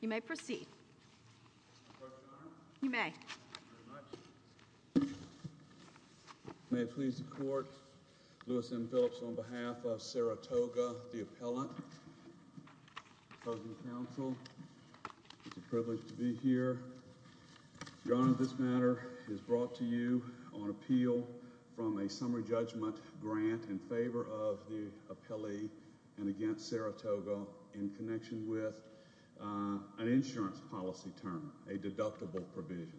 You may proceed. Your Honor. You may. Thank you very much. May it please the Court, Lewis M. Phillips on behalf of Saratoga, the appellant, opposing counsel, it's a privilege to be here. Your Honor, this matter is brought to you on appeal from a summary judgment grant in favor of the appellee and against Saratoga in connection with an insurance policy term, a deductible provision.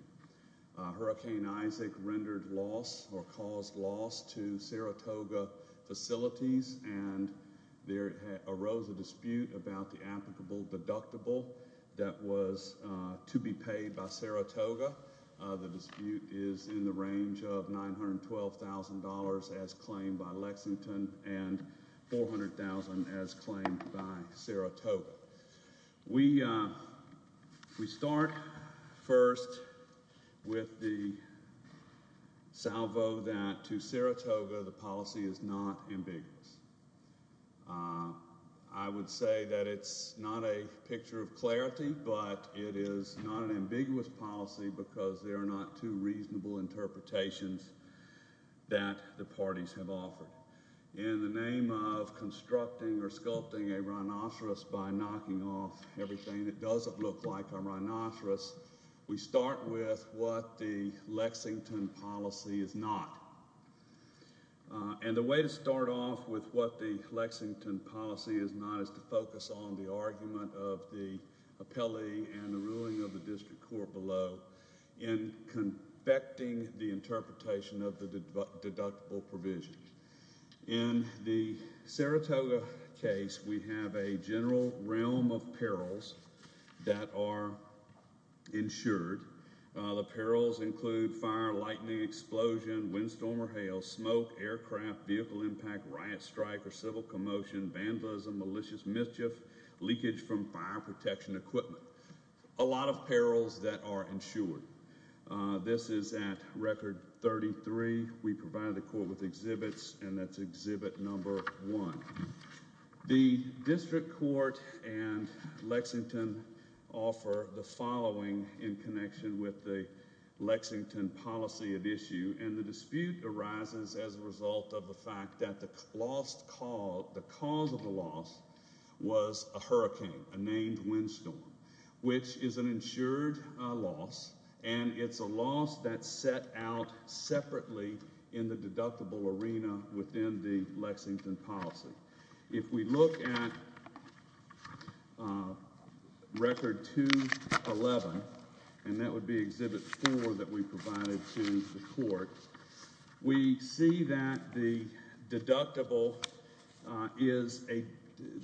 Hurricane Isaac rendered loss or caused loss to Saratoga facilities and there arose a dispute about the applicable deductible that was to be paid by Saratoga. The dispute is in the range of $912,000 as claimed by Lexington and $400,000 as claimed by Saratoga. We start first with the salvo that to Saratoga the policy is not ambiguous. I would say that it's not a picture of clarity but it is not an ambiguous policy because there are not two reasonable interpretations that the parties have offered. In the name of constructing or sculpting a rhinoceros by knocking off everything that doesn't look like a rhinoceros, we start with what the Lexington policy is not. And the way to start off with what the Lexington policy is not is to focus on the argument of the appellee and the ruling of the district court below in convecting the interpretation of the deductible provision. In the Saratoga case, we have a general realm of perils that are insured. The perils include fire, lightning, explosion, windstorm or hail, smoke, aircraft, vehicle impact, riot strike or civil commotion, vandalism, malicious mischief, leakage from fire protection equipment. A lot of perils that are insured. This is at record 33. We provide the court with exhibits and that's exhibit number one. The district court and Lexington offer the following in connection with the Lexington policy at issue and the dispute arises as a result of the fact that the cause of the loss was a hurricane, a named windstorm, which is an insured loss and it's a loss that's set out separately in the deductible arena within the Lexington policy. If we look at record 211 and that would be exhibit four that we provided to the court, we see that the deductible is a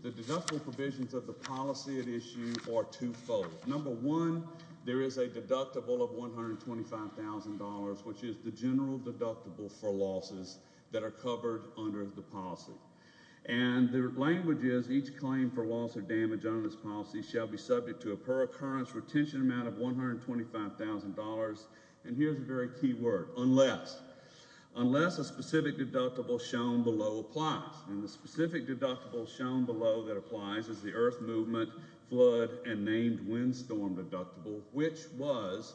the deductible provisions of the policy at issue are twofold. Number one, there is a deductible of $125,000 which is the general deductible for losses that are covered under the policy and the language is each claim for loss or damage on this policy shall be subject to a per occurrence retention amount of $125,000 and here's a very key word, unless unless a specific deductible shown below applies and the specific deductible shown below that applies is the Earth Movement Flood and Named Windstorm deductible which was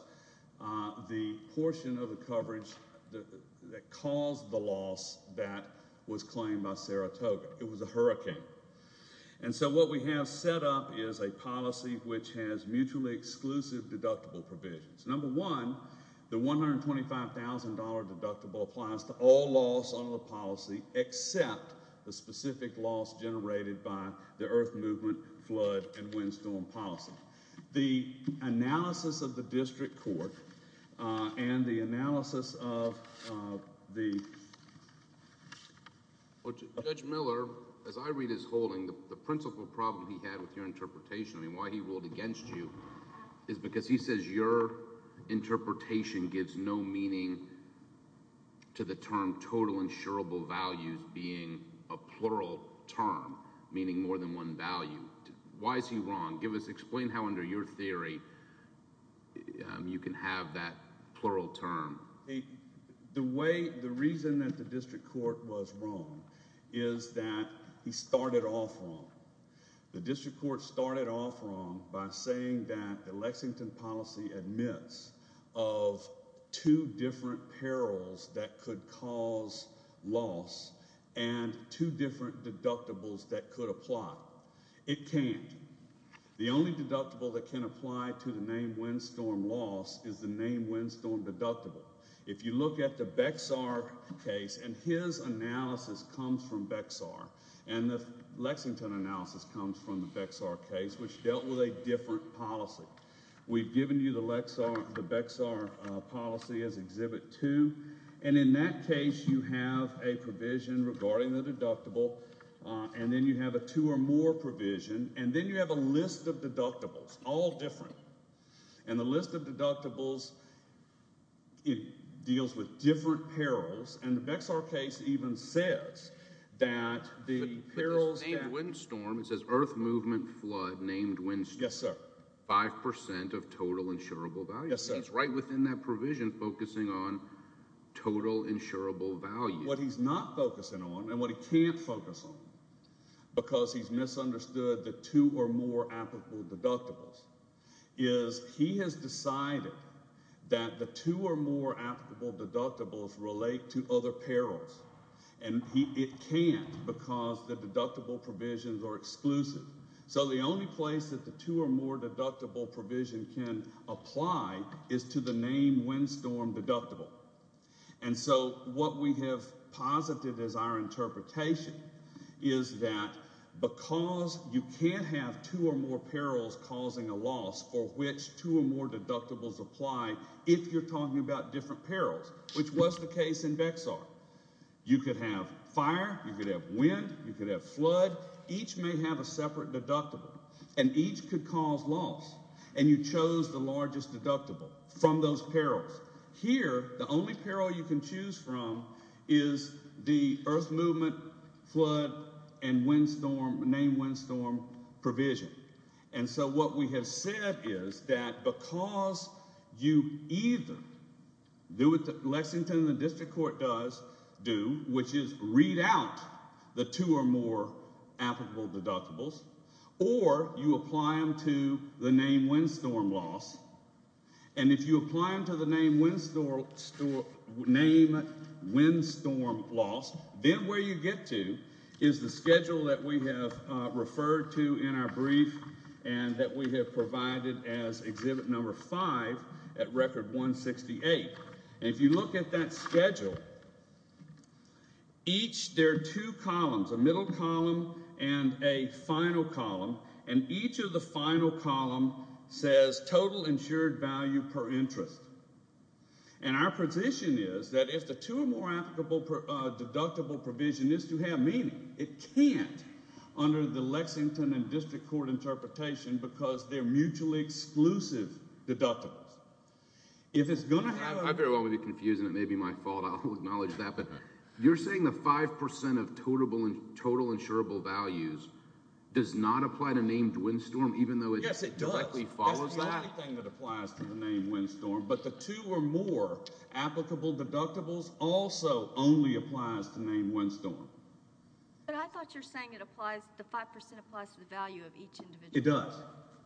the portion of the coverage that caused the loss that was claimed by Saratoga. It was a hurricane and so what we have set up is a policy which has mutually exclusive deductible provisions. Number one, the $125,000 deductible applies to all loss under the policy except the specific loss generated by the Earth Movement Flood and Windstorm policy. The analysis of the district court and the analysis of the Judge Miller as I read his holding the principal problem he had with your interpretation I mean why he ruled against you is because he says your interpretation gives no meaning to the term total insurable values being a plural term meaning more than one value. Why is he wrong? Explain how under your theory you can have that plural term. The reason that the district court was wrong is that he started off wrong. The district court started off wrong by saying that the Lexington policy admits of two different perils that could cause loss and two different deductibles that could apply. It can't. The only deductible that can apply to the named windstorm loss is the named windstorm deductible. If you look at the Bexar case and his analysis comes from Bexar and the Lexington analysis comes from the Bexar case which dealt with a different policy. We've given you the Bexar policy as exhibit two and in that case you have a provision regarding the deductible and then you have a two or more provision and then you have a list of deductibles all different and the list of deductibles it deals with different perils and the Bexar case even says that the perils named windstorm, it says earth movement flood named windstorm 5% of total insurable values. It's right within that total insurable value. What he's not focusing on and what he can't focus on because he's misunderstood the two or more applicable deductibles is he has decided that the two or more applicable deductibles relate to other perils and it can't because the deductible provisions are exclusive so the only place that the two or more deductible provision can apply is to the named windstorm deductible and so what we have posited as our interpretation is that because you can't have two or more perils causing a loss for which two or more deductibles apply if you're talking about different perils which was the case in Bexar. You could have fire, you could have wind, you could have flood. Each may have a separate deductible and each could cause loss and you chose the largest deductible from those perils. Here the only peril you can choose from is the earth movement flood and windstorm named windstorm provision and so what we have said is that because you either do what Lexington and the district court does do which is read out the two or more applicable deductibles or you apply them to the named windstorm loss and if you apply them to the named windstorm loss then where you get to is the schedule that we have referred to in our brief and that we have provided as exhibit number 5 at record 168 and if you look at that schedule each there are two columns, a middle column and a final column and each of the final column says total insured value per interest and our position is that if the two or more applicable deductible provision is to have meaning it can't under the Lexington and district court interpretation because they are mutually exclusive deductibles if it's going to have... I very well would be confused and it may be my fault, I'll acknowledge that but you're saying the 5% of total insurable values does not apply to named windstorm even though it directly follows that? Yes, it does. It's the only thing that applies to the named windstorm but the two or more applicable deductibles also only applies to named windstorm. But I thought you're saying the 5% applies to the value of each individual property. It does.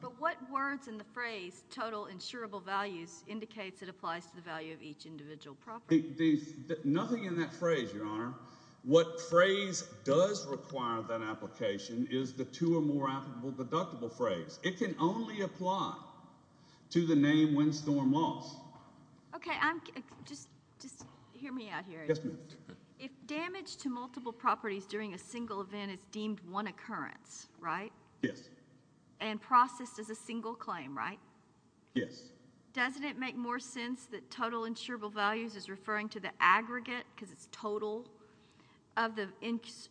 But what words in the phrase total insurable values indicates it applies to the value of each individual property? Nothing in that phrase your honor. What phrase does require that application is the two or more applicable deductible phrase. It can only apply to the named windstorm loss. Okay, I'm just, just hear me out here. Yes ma'am. If damage to multiple properties during a single event is deemed one occurrence, right? Yes. And processed as a single claim, right? Yes. Doesn't it make more sense that total insurable values is referring to the aggregate because it's total of the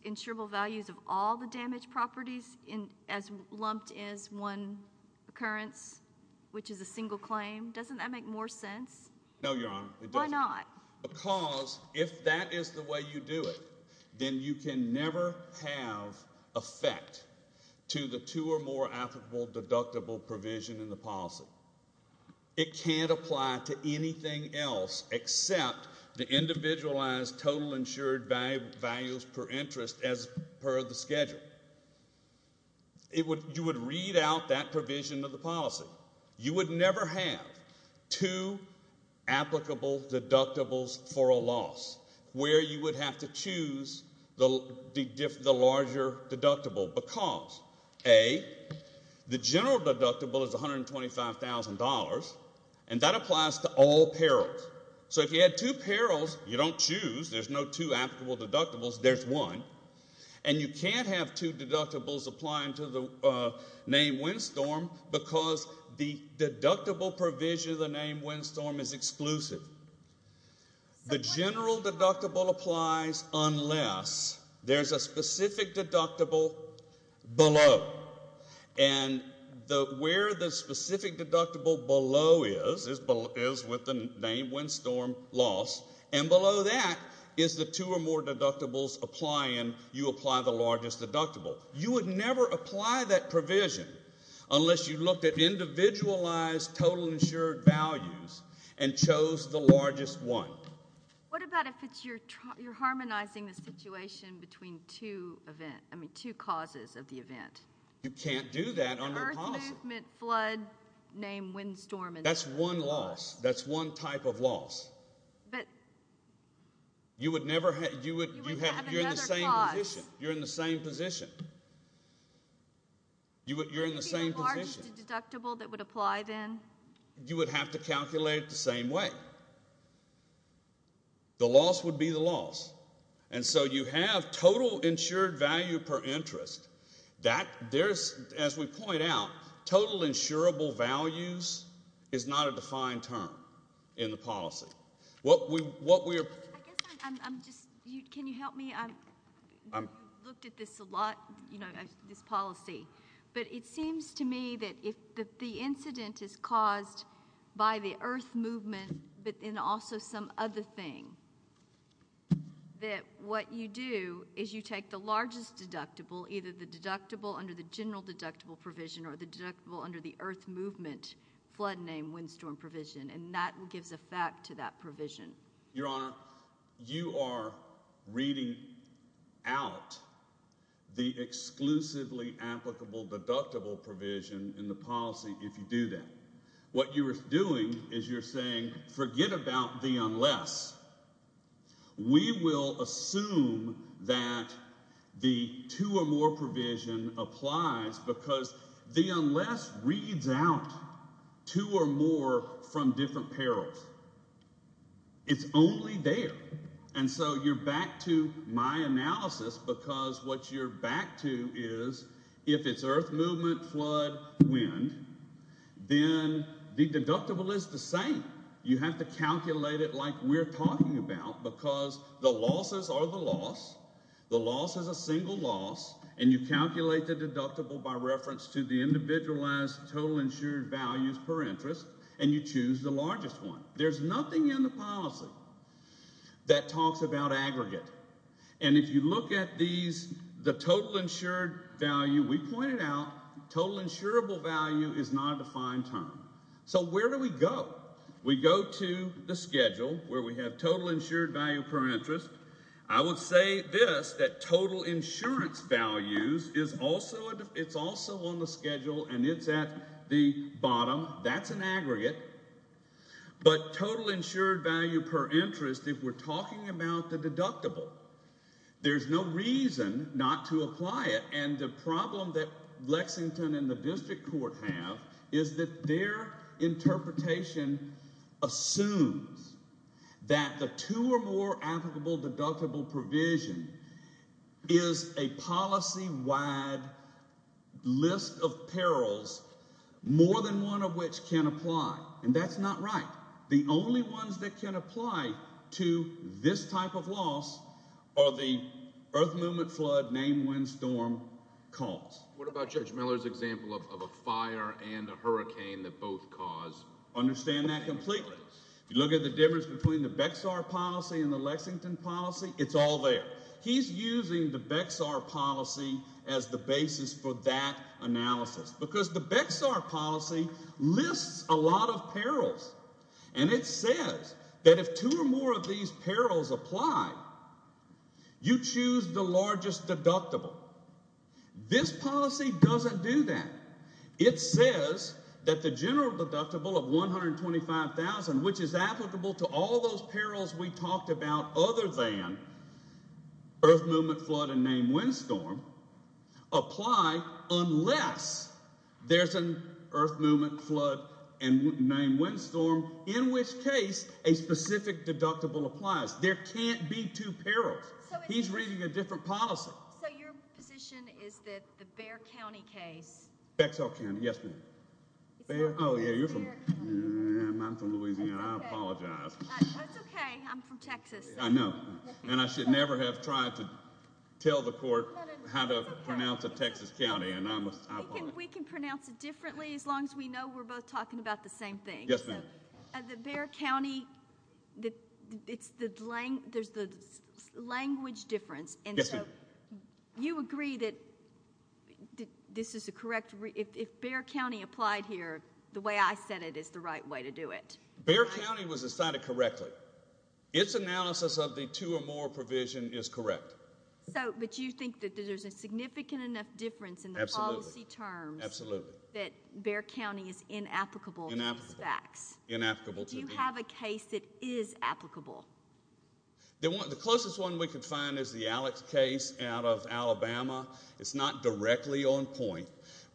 insurable values of all the damaged properties as lumped as one occurrence which is a single claim. Doesn't that make more sense? No your honor. Why not? Because if that is the way you do it, then you can never have effect to the two or more applicable deductible provision in the policy. It can't apply to anything else except the insured values per interest as per the schedule. You would read out that provision of the policy. You would never have two applicable deductibles for a loss where you would have to choose the larger deductible because A, the general deductible is $125,000 and that applies to all perils. So if you had two perils you don't choose. There's no two applicable deductibles. There's one. And you can't have two deductibles applying to the name windstorm because the deductible provision of the name windstorm is exclusive. The general deductible applies unless there's a specific deductible below. And where the specific deductible below is, is with the name windstorm loss and below that is the two or more deductibles applying. You apply the largest deductible. You would never apply that provision unless you looked at individualized total insured values and chose the largest one. What about if it's your harmonizing the situation between two event, I mean two causes of the event? You can't do that under the policy. Earth movement, flood, name windstorm. That's one loss. That's one type of loss. You would never have, you're in the same position. You're in the same position. You're in the same position. Is there a large deductible that would apply then? You would have to calculate it the same way. The loss would be the loss. And so you have total insured value per interest. That, there's, as we point out, total insurable values is not a defined term in the policy. I guess I'm just, can you help me? I've looked at this a lot, this policy, but it seems to me that if the incident is caused by the earth movement, but then also some other thing, that what you do is you take the largest deductible, either the deductible under the general deductible provision or the deductible under the earth movement flood name windstorm provision, and that gives effect to that provision. Your Honor, you are reading out the exclusively applicable deductible provision in the policy if you do that. What you are doing is you're saying, forget about the unless. We will assume that the two or more provision applies because the unless reads out two or more from different perils. It's only there. And so you're back to my analysis because what you're back to is if it's earth movement, flood, wind, then the deductible is the same. You have to calculate it like we're talking about because the losses are the loss. The loss is a single loss and you calculate the deductible by reference to the individualized total insured values per interest and you choose the largest one. There's nothing in the policy that talks about aggregate. And if you look at the total insured value, we pointed out, total insurable value is not a defined term. So where do we go? We go to the schedule where we have total insured value per interest. I would say this, that total insurance values is also on the schedule and it's at the bottom. That's an aggregate. But total insured value per interest if we're talking about the deductible, there's no reason not to apply it. And the problem that Lexington and the district court have is that their interpretation assumes that the two or more applicable deductible provision is a policy-wide list of perils more than one of which can apply. And that's not right. The only ones that can apply to this type of loss are the earth movement, flood, name, wind, storm cause. What about Judge Miller's example of a fire and a hurricane that both cause? Understand that completely. If you look at the difference between the Bexar policy and the Lexington policy, it's all there. He's using the Bexar policy as the basis for that analysis because the Bexar policy lists a lot of perils and it says that if two or more of these perils apply, you choose the largest deductible. This policy doesn't do that. It says that the general deductible of $125,000 which is applicable to all those perils we talked about other than earth movement, flood, and name, wind, storm apply unless there's an earth movement, flood, and name, wind, storm in which case a specific deductible applies. There can't be two perils. He's reading a different policy. So your position is that the Bexar policy, earth movement, flood, and name, wind, storm apply unless there's an earth movement. Bear County was decided correctly. Its analysis of the two or more provision is correct. But you think that there's a significant enough difference in the policy terms that Bear County is inapplicable to these facts. Do you have a case that is applicable? The closest one we could find is the Alex case out of Alabama. It's not directly on point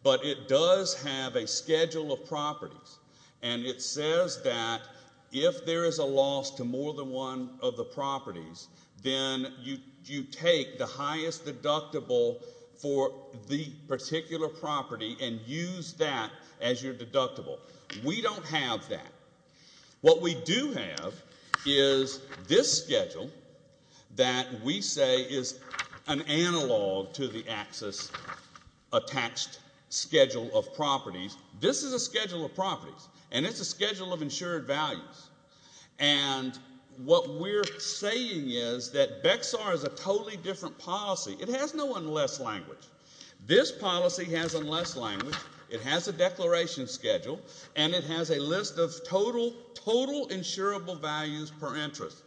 but it does have a schedule of properties and it says that if there is a loss to more than one of the properties then you take the highest deductible for the particular property and use that as your deductible. We don't have that. What we do have is this schedule that we say is an analog to the next schedule of properties. This is a schedule of properties and it's a schedule of insured values. What we're saying is that BEXAR is a totally different policy. It has no unless language. This policy has unless language. It has a declaration schedule and it has a list of total insurable values per interest.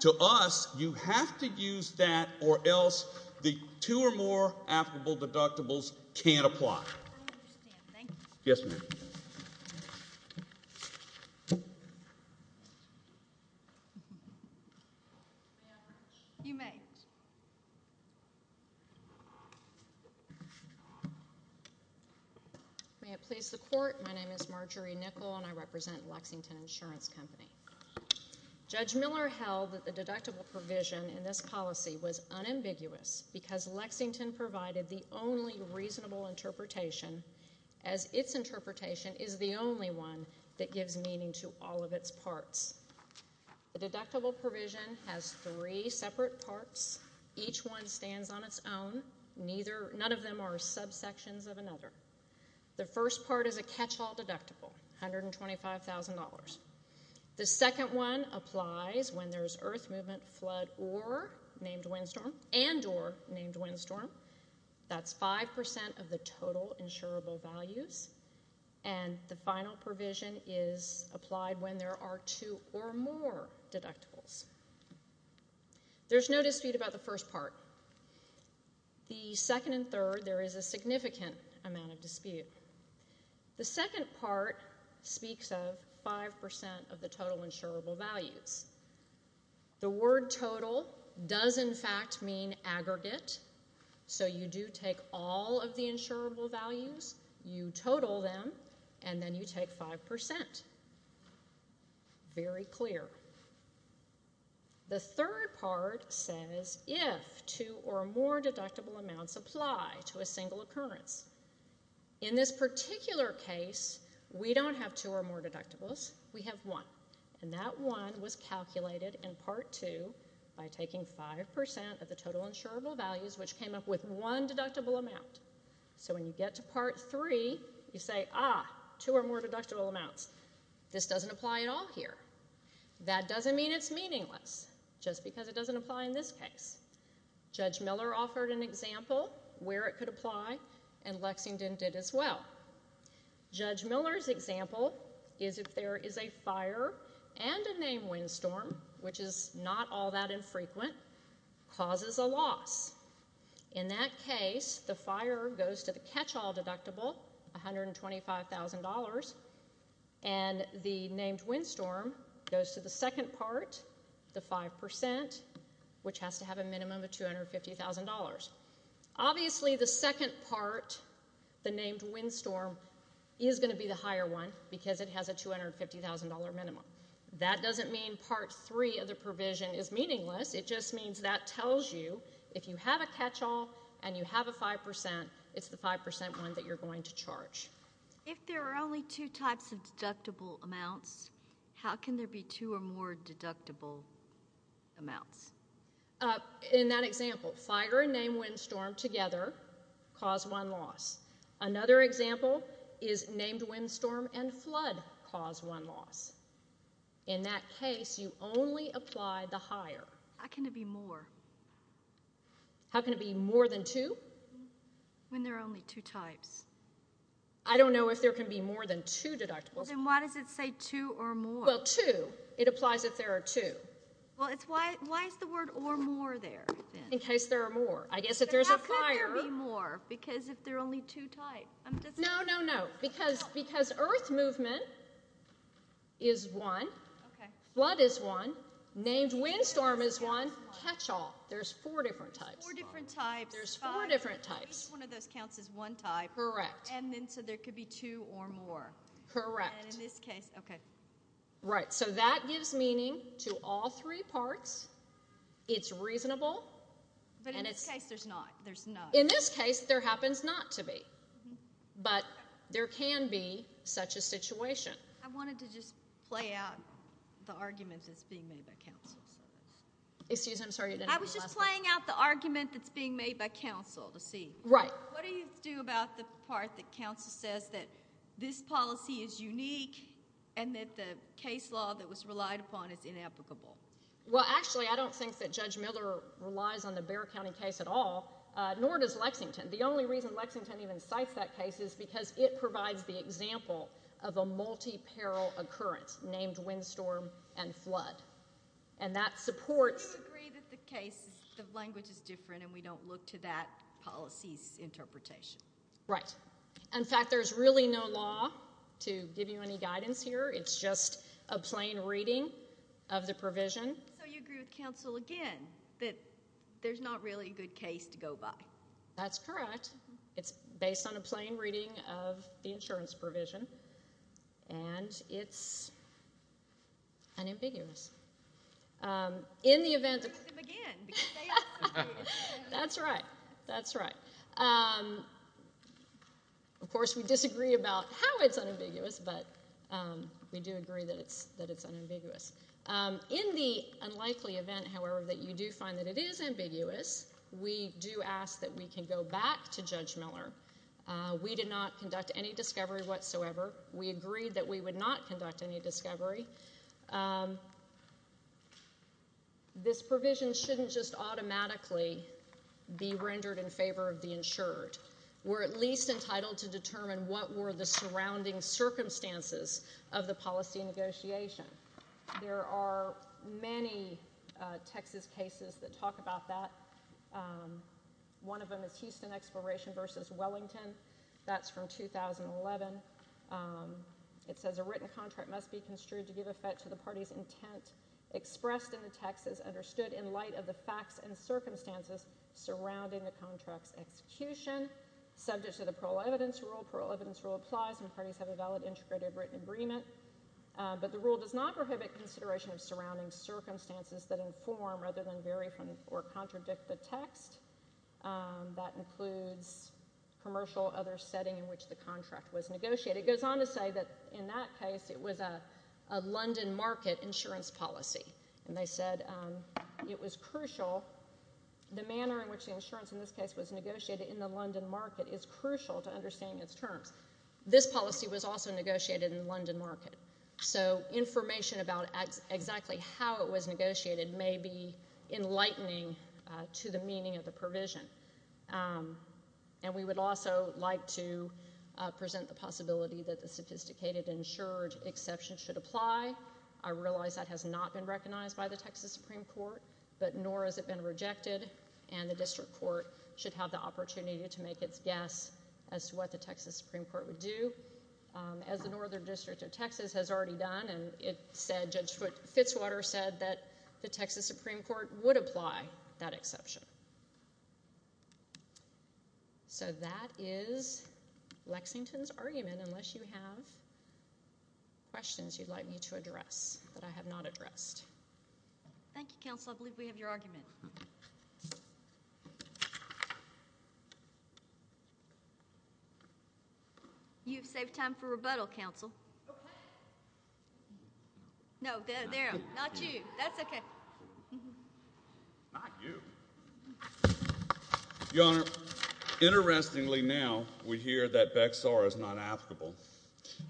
To us, you have to use that or else the two or more applicable deductibles can't apply. Yes ma'am. May it please the court. My name is Marjorie Nichol and I represent Lexington Insurance Company. Judge Miller held that the deductible provision in this policy was unambiguous because Lexington provided the only reasonable interpretation as its interpretation is the only one that gives meaning to all of its parts. The deductible provision has three separate parts. Each one stands on its own. None of them are subsections of another. The first part is a catch-all deductible, $125,000. The second one applies when there's earth movement, flood, or named windstorm and or named windstorm. That's 5% of the total insurable values and the final provision is applied when there are two or more deductibles. There's no dispute about the first part. The second and third, there is a significant amount of dispute. The second part speaks of 5% of the total insurable values. The word total does in fact mean aggregate. So you do take all of the insurable values, you total them, and then you take 5%. Very clear. The third part says if two or more deductible amounts apply to a single occurrence. In this particular case, we don't have two or more deductible amounts. And that one was calculated in Part 2 by taking 5% of the total insurable values which came up with one deductible amount. So when you get to Part 3, you say, ah, two or more deductible amounts. This doesn't apply at all here. That doesn't mean it's meaningless just because it doesn't apply in this case. Judge Miller offered an example where it could apply and Lexington did as well. Judge Miller's example is if there is a fire and a named windstorm, which is not all that infrequent, causes a loss. In that case, the fire goes to the catch-all deductible, $125,000, and the named windstorm goes to the second part, the 5%, which has to have a minimum of $250,000. Obviously the second part, the named windstorm, is going to be the higher one because it has a $250,000 minimum. That doesn't mean Part 3 of the provision is meaningless. It just means that tells you if you have a catch-all and you have a 5%, it's the 5% one that you're going to charge. If there are only two types of deductible amounts, how can there be two or more deductible amounts? In that example, fire and named windstorm together cause one loss. Another example is named windstorm and flood cause one loss. In that case, you only apply the higher. How can it be more? How can it be more than two? When there are only two types. I don't know if there can be more than two deductibles. Then why does it say two or more? Well, two, it applies if there are two. Why is the word or more there? In case there are more. How can there be more? Because if there are only two types. No, no, no. Because earth movement is one. Flood is one. Named windstorm is one. Catch-all. There's four different types. There's four different types. Each one of those counts as one type. So there could be two or more. Correct. So that gives meaning to all three parts. It's reasonable. But in this case, there's not. In this case, there happens not to be. But there can be such a situation. I wanted to just play out the argument that's being made by counsel. I was just playing out the argument that's being made by counsel to see. What do you do about the part that counsel says that this policy is unique and that the case law that was relied upon is inapplicable? Actually, I don't think that Judge Miller relies on the Bexar County case at all. Nor does Lexington. The only reason Lexington even cites that case is because it provides the example of a multi-parallel occurrence named windstorm and flood. And that supports... Do you agree that the language is different and we don't look to that policy's interpretation? In fact, there's really no law to give you any guidance here. It's just a plain reading of the provision. So you agree with counsel again that there's not really a good case to go by? That's correct. It's based on a plain reading of the insurance provision. And it's unambiguous. Um, in the event... ...again. That's right. That's right. Um... Of course, we disagree about how it's We do agree that it's unambiguous. In the unlikely event, however, that you do find that it is ambiguous, we do ask that we can go back to Judge Miller. We did not conduct any discovery whatsoever. We agreed that we would not conduct any discovery. Um... This provision shouldn't just automatically be rendered in favor of the insured. We're at least entitled to determine what were the surrounding circumstances of the policy negotiation. There are many Texas cases that talk about that. Um... One of them is Houston Exploration v. Wellington. That's from 2011. Um... It says a written contract must be construed to give effect to the party's intent expressed in the text as understood in light of the facts and circumstances surrounding the contract's execution. Subject to the parole evidence rule. Parole evidence rule applies when parties have a valid integrated written agreement. But the rule does not prohibit consideration of surrounding circumstances that inform rather than vary from or contradict the text. That includes commercial other setting in which the contract was negotiated. It goes on to say that in that case it was a London market insurance policy. And they said it was crucial the manner in which the insurance in this case was negotiated in the terms. This policy was also negotiated in the London market. So information about exactly how it was negotiated may be enlightening to the meaning of the provision. Um... And we would also like to present the possibility that the sophisticated insured exception should apply. I realize that has not been recognized by the Texas Supreme Court, but nor has it been rejected. And the District Court should have the opportunity to make its guess as to what the Texas Supreme Court would do. As the Northern District of Texas has already done and it said Judge Fitzwater said that the Texas Supreme Court would apply that exception. So that is Lexington's argument unless you have questions you'd like me to address that I have not addressed. Thank you, Counselor. I believe we have your argument. You've saved time for rebuttal, Counsel. Okay. No, there, not you. That's okay. Not you. Your Honor, interestingly now, we hear that BEXAR is not applicable.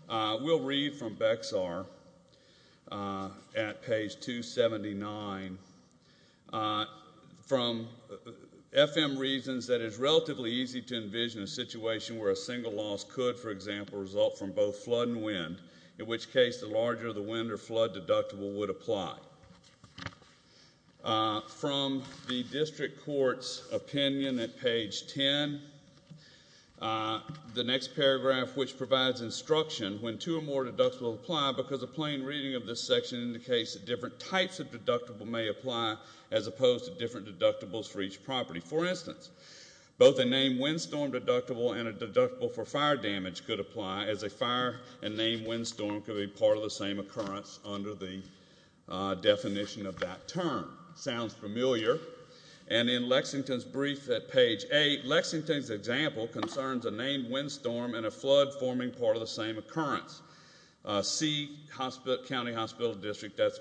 We'll read from BEXAR at page 279 from FM Reasons that it is relatively easy to envision a situation where a single loss could, for example, result from both flood and wind, in which case the larger the wind or flood deductible would apply. From the District Court's opinion at page 10, the next paragraph which provides instruction when two or more deductibles apply because a plain reading of this section indicates that different types of deductible may apply as opposed to different types of deductibles for each property. For instance, both a named windstorm deductible and a deductible for fire damage could apply as a fire and named windstorm could be part of the same occurrence under the definition of that term. Sounds familiar. And in Lexington's brief at page 8, Lexington's example concerns a named windstorm and a flood forming part of the same occurrence. C, County Hospital District, that's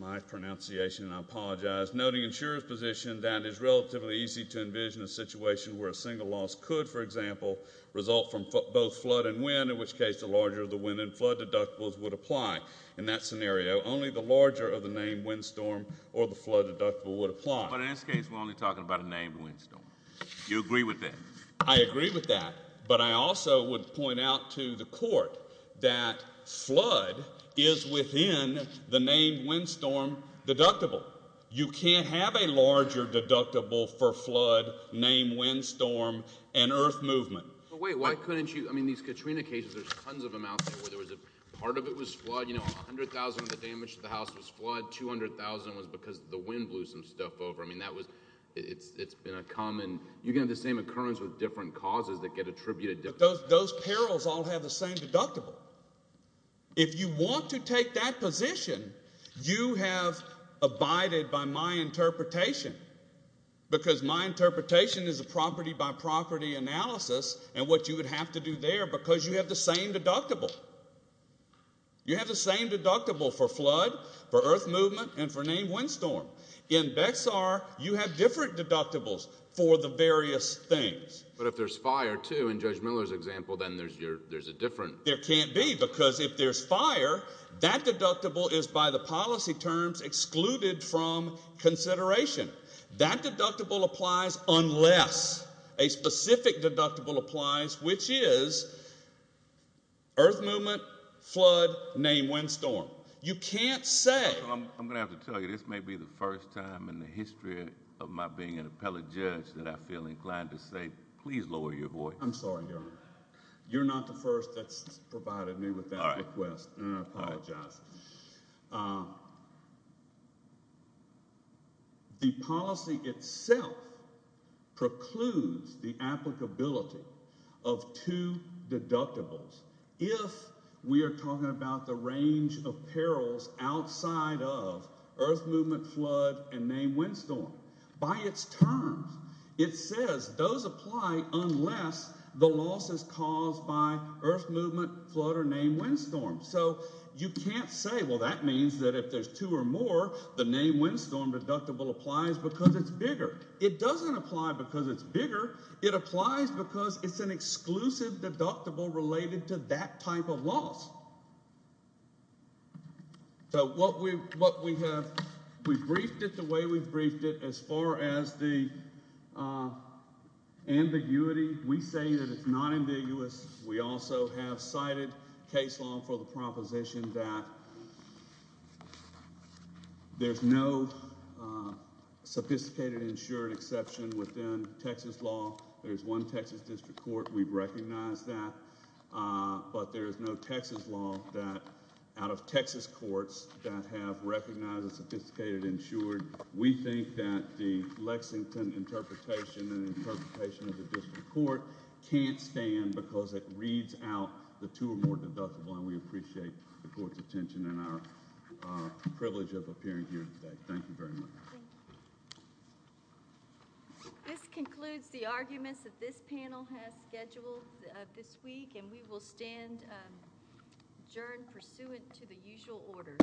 my pronunciation and I apologize, noting insurer's position that is relatively easy to envision a situation where a single loss could, for example, result from both flood and wind, in which case the larger the wind and flood deductibles would apply. In that scenario, only the larger of the named windstorm or the flood deductible would apply. But in this case we're only talking about a named windstorm. You agree with that? I agree with that, but I also would point out to the Court that flood is within the named windstorm deductible. You can't have a larger deductible for flood, named windstorm, and earth movement. But wait, why couldn't you, I mean, these Katrina cases, there's tons of them out there where there was a part of it was flood, you know, 100,000 of the damage to the house was flood, 200,000 was because the wind blew some stuff over. I mean, that was, it's been a common, you can have the same occurrence with different causes that get attributed to... But those perils all have the same deductible. If you want to take that position, you have abided by my interpretation, because my interpretation is a property by property analysis, and what you would have to do there, because you have the same deductible. You have the same deductible for flood, for earth movement, and for named windstorm. In BEXAR, you have different deductibles for the various things. But if there's fire too, in Judge Miller's example, then there's a different... There can't be, because if there's fire, that deductible is by the policy terms excluded from consideration. That deductible applies unless a specific deductible applies, which is earth movement, flood, named windstorm. You can't say... I'm going to have to tell you, this may be the first time in the history of my being an appellate judge that I feel inclined to say, please lower your voice. I'm sorry, Your Honor. You're not the first that's provided me with that request. I apologize. The policy itself precludes the applicability of two deductibles if we are talking about the range of perils outside of earth movement, flood, and named windstorm. By its terms, it says those apply unless the loss is caused by earth movement, flood, or named windstorm. You can't say, well, that means that if there's two or more, the named windstorm deductible applies because it's bigger. It doesn't apply because it's bigger. It applies because it's an exclusive deductible related to that type of loss. We've briefed it the way we've briefed it as far as the ambiguity. We say that it's not ambiguous. We also have cited case law for the proposition that there's no sophisticated insured exception within Texas law. There's one Texas district court. We've recognized that. But there's no Texas law that out of Texas courts that have recognized a sophisticated insured. We think that the Lexington interpretation and interpretation of the district court can't stand because it reads out the two or more deductible and we appreciate the court's attention and our privilege of appearing here today. Thank you very much. This concludes the arguments that this panel has scheduled this week and we will stand adjourned pursuant to the usual order. Thank you very much.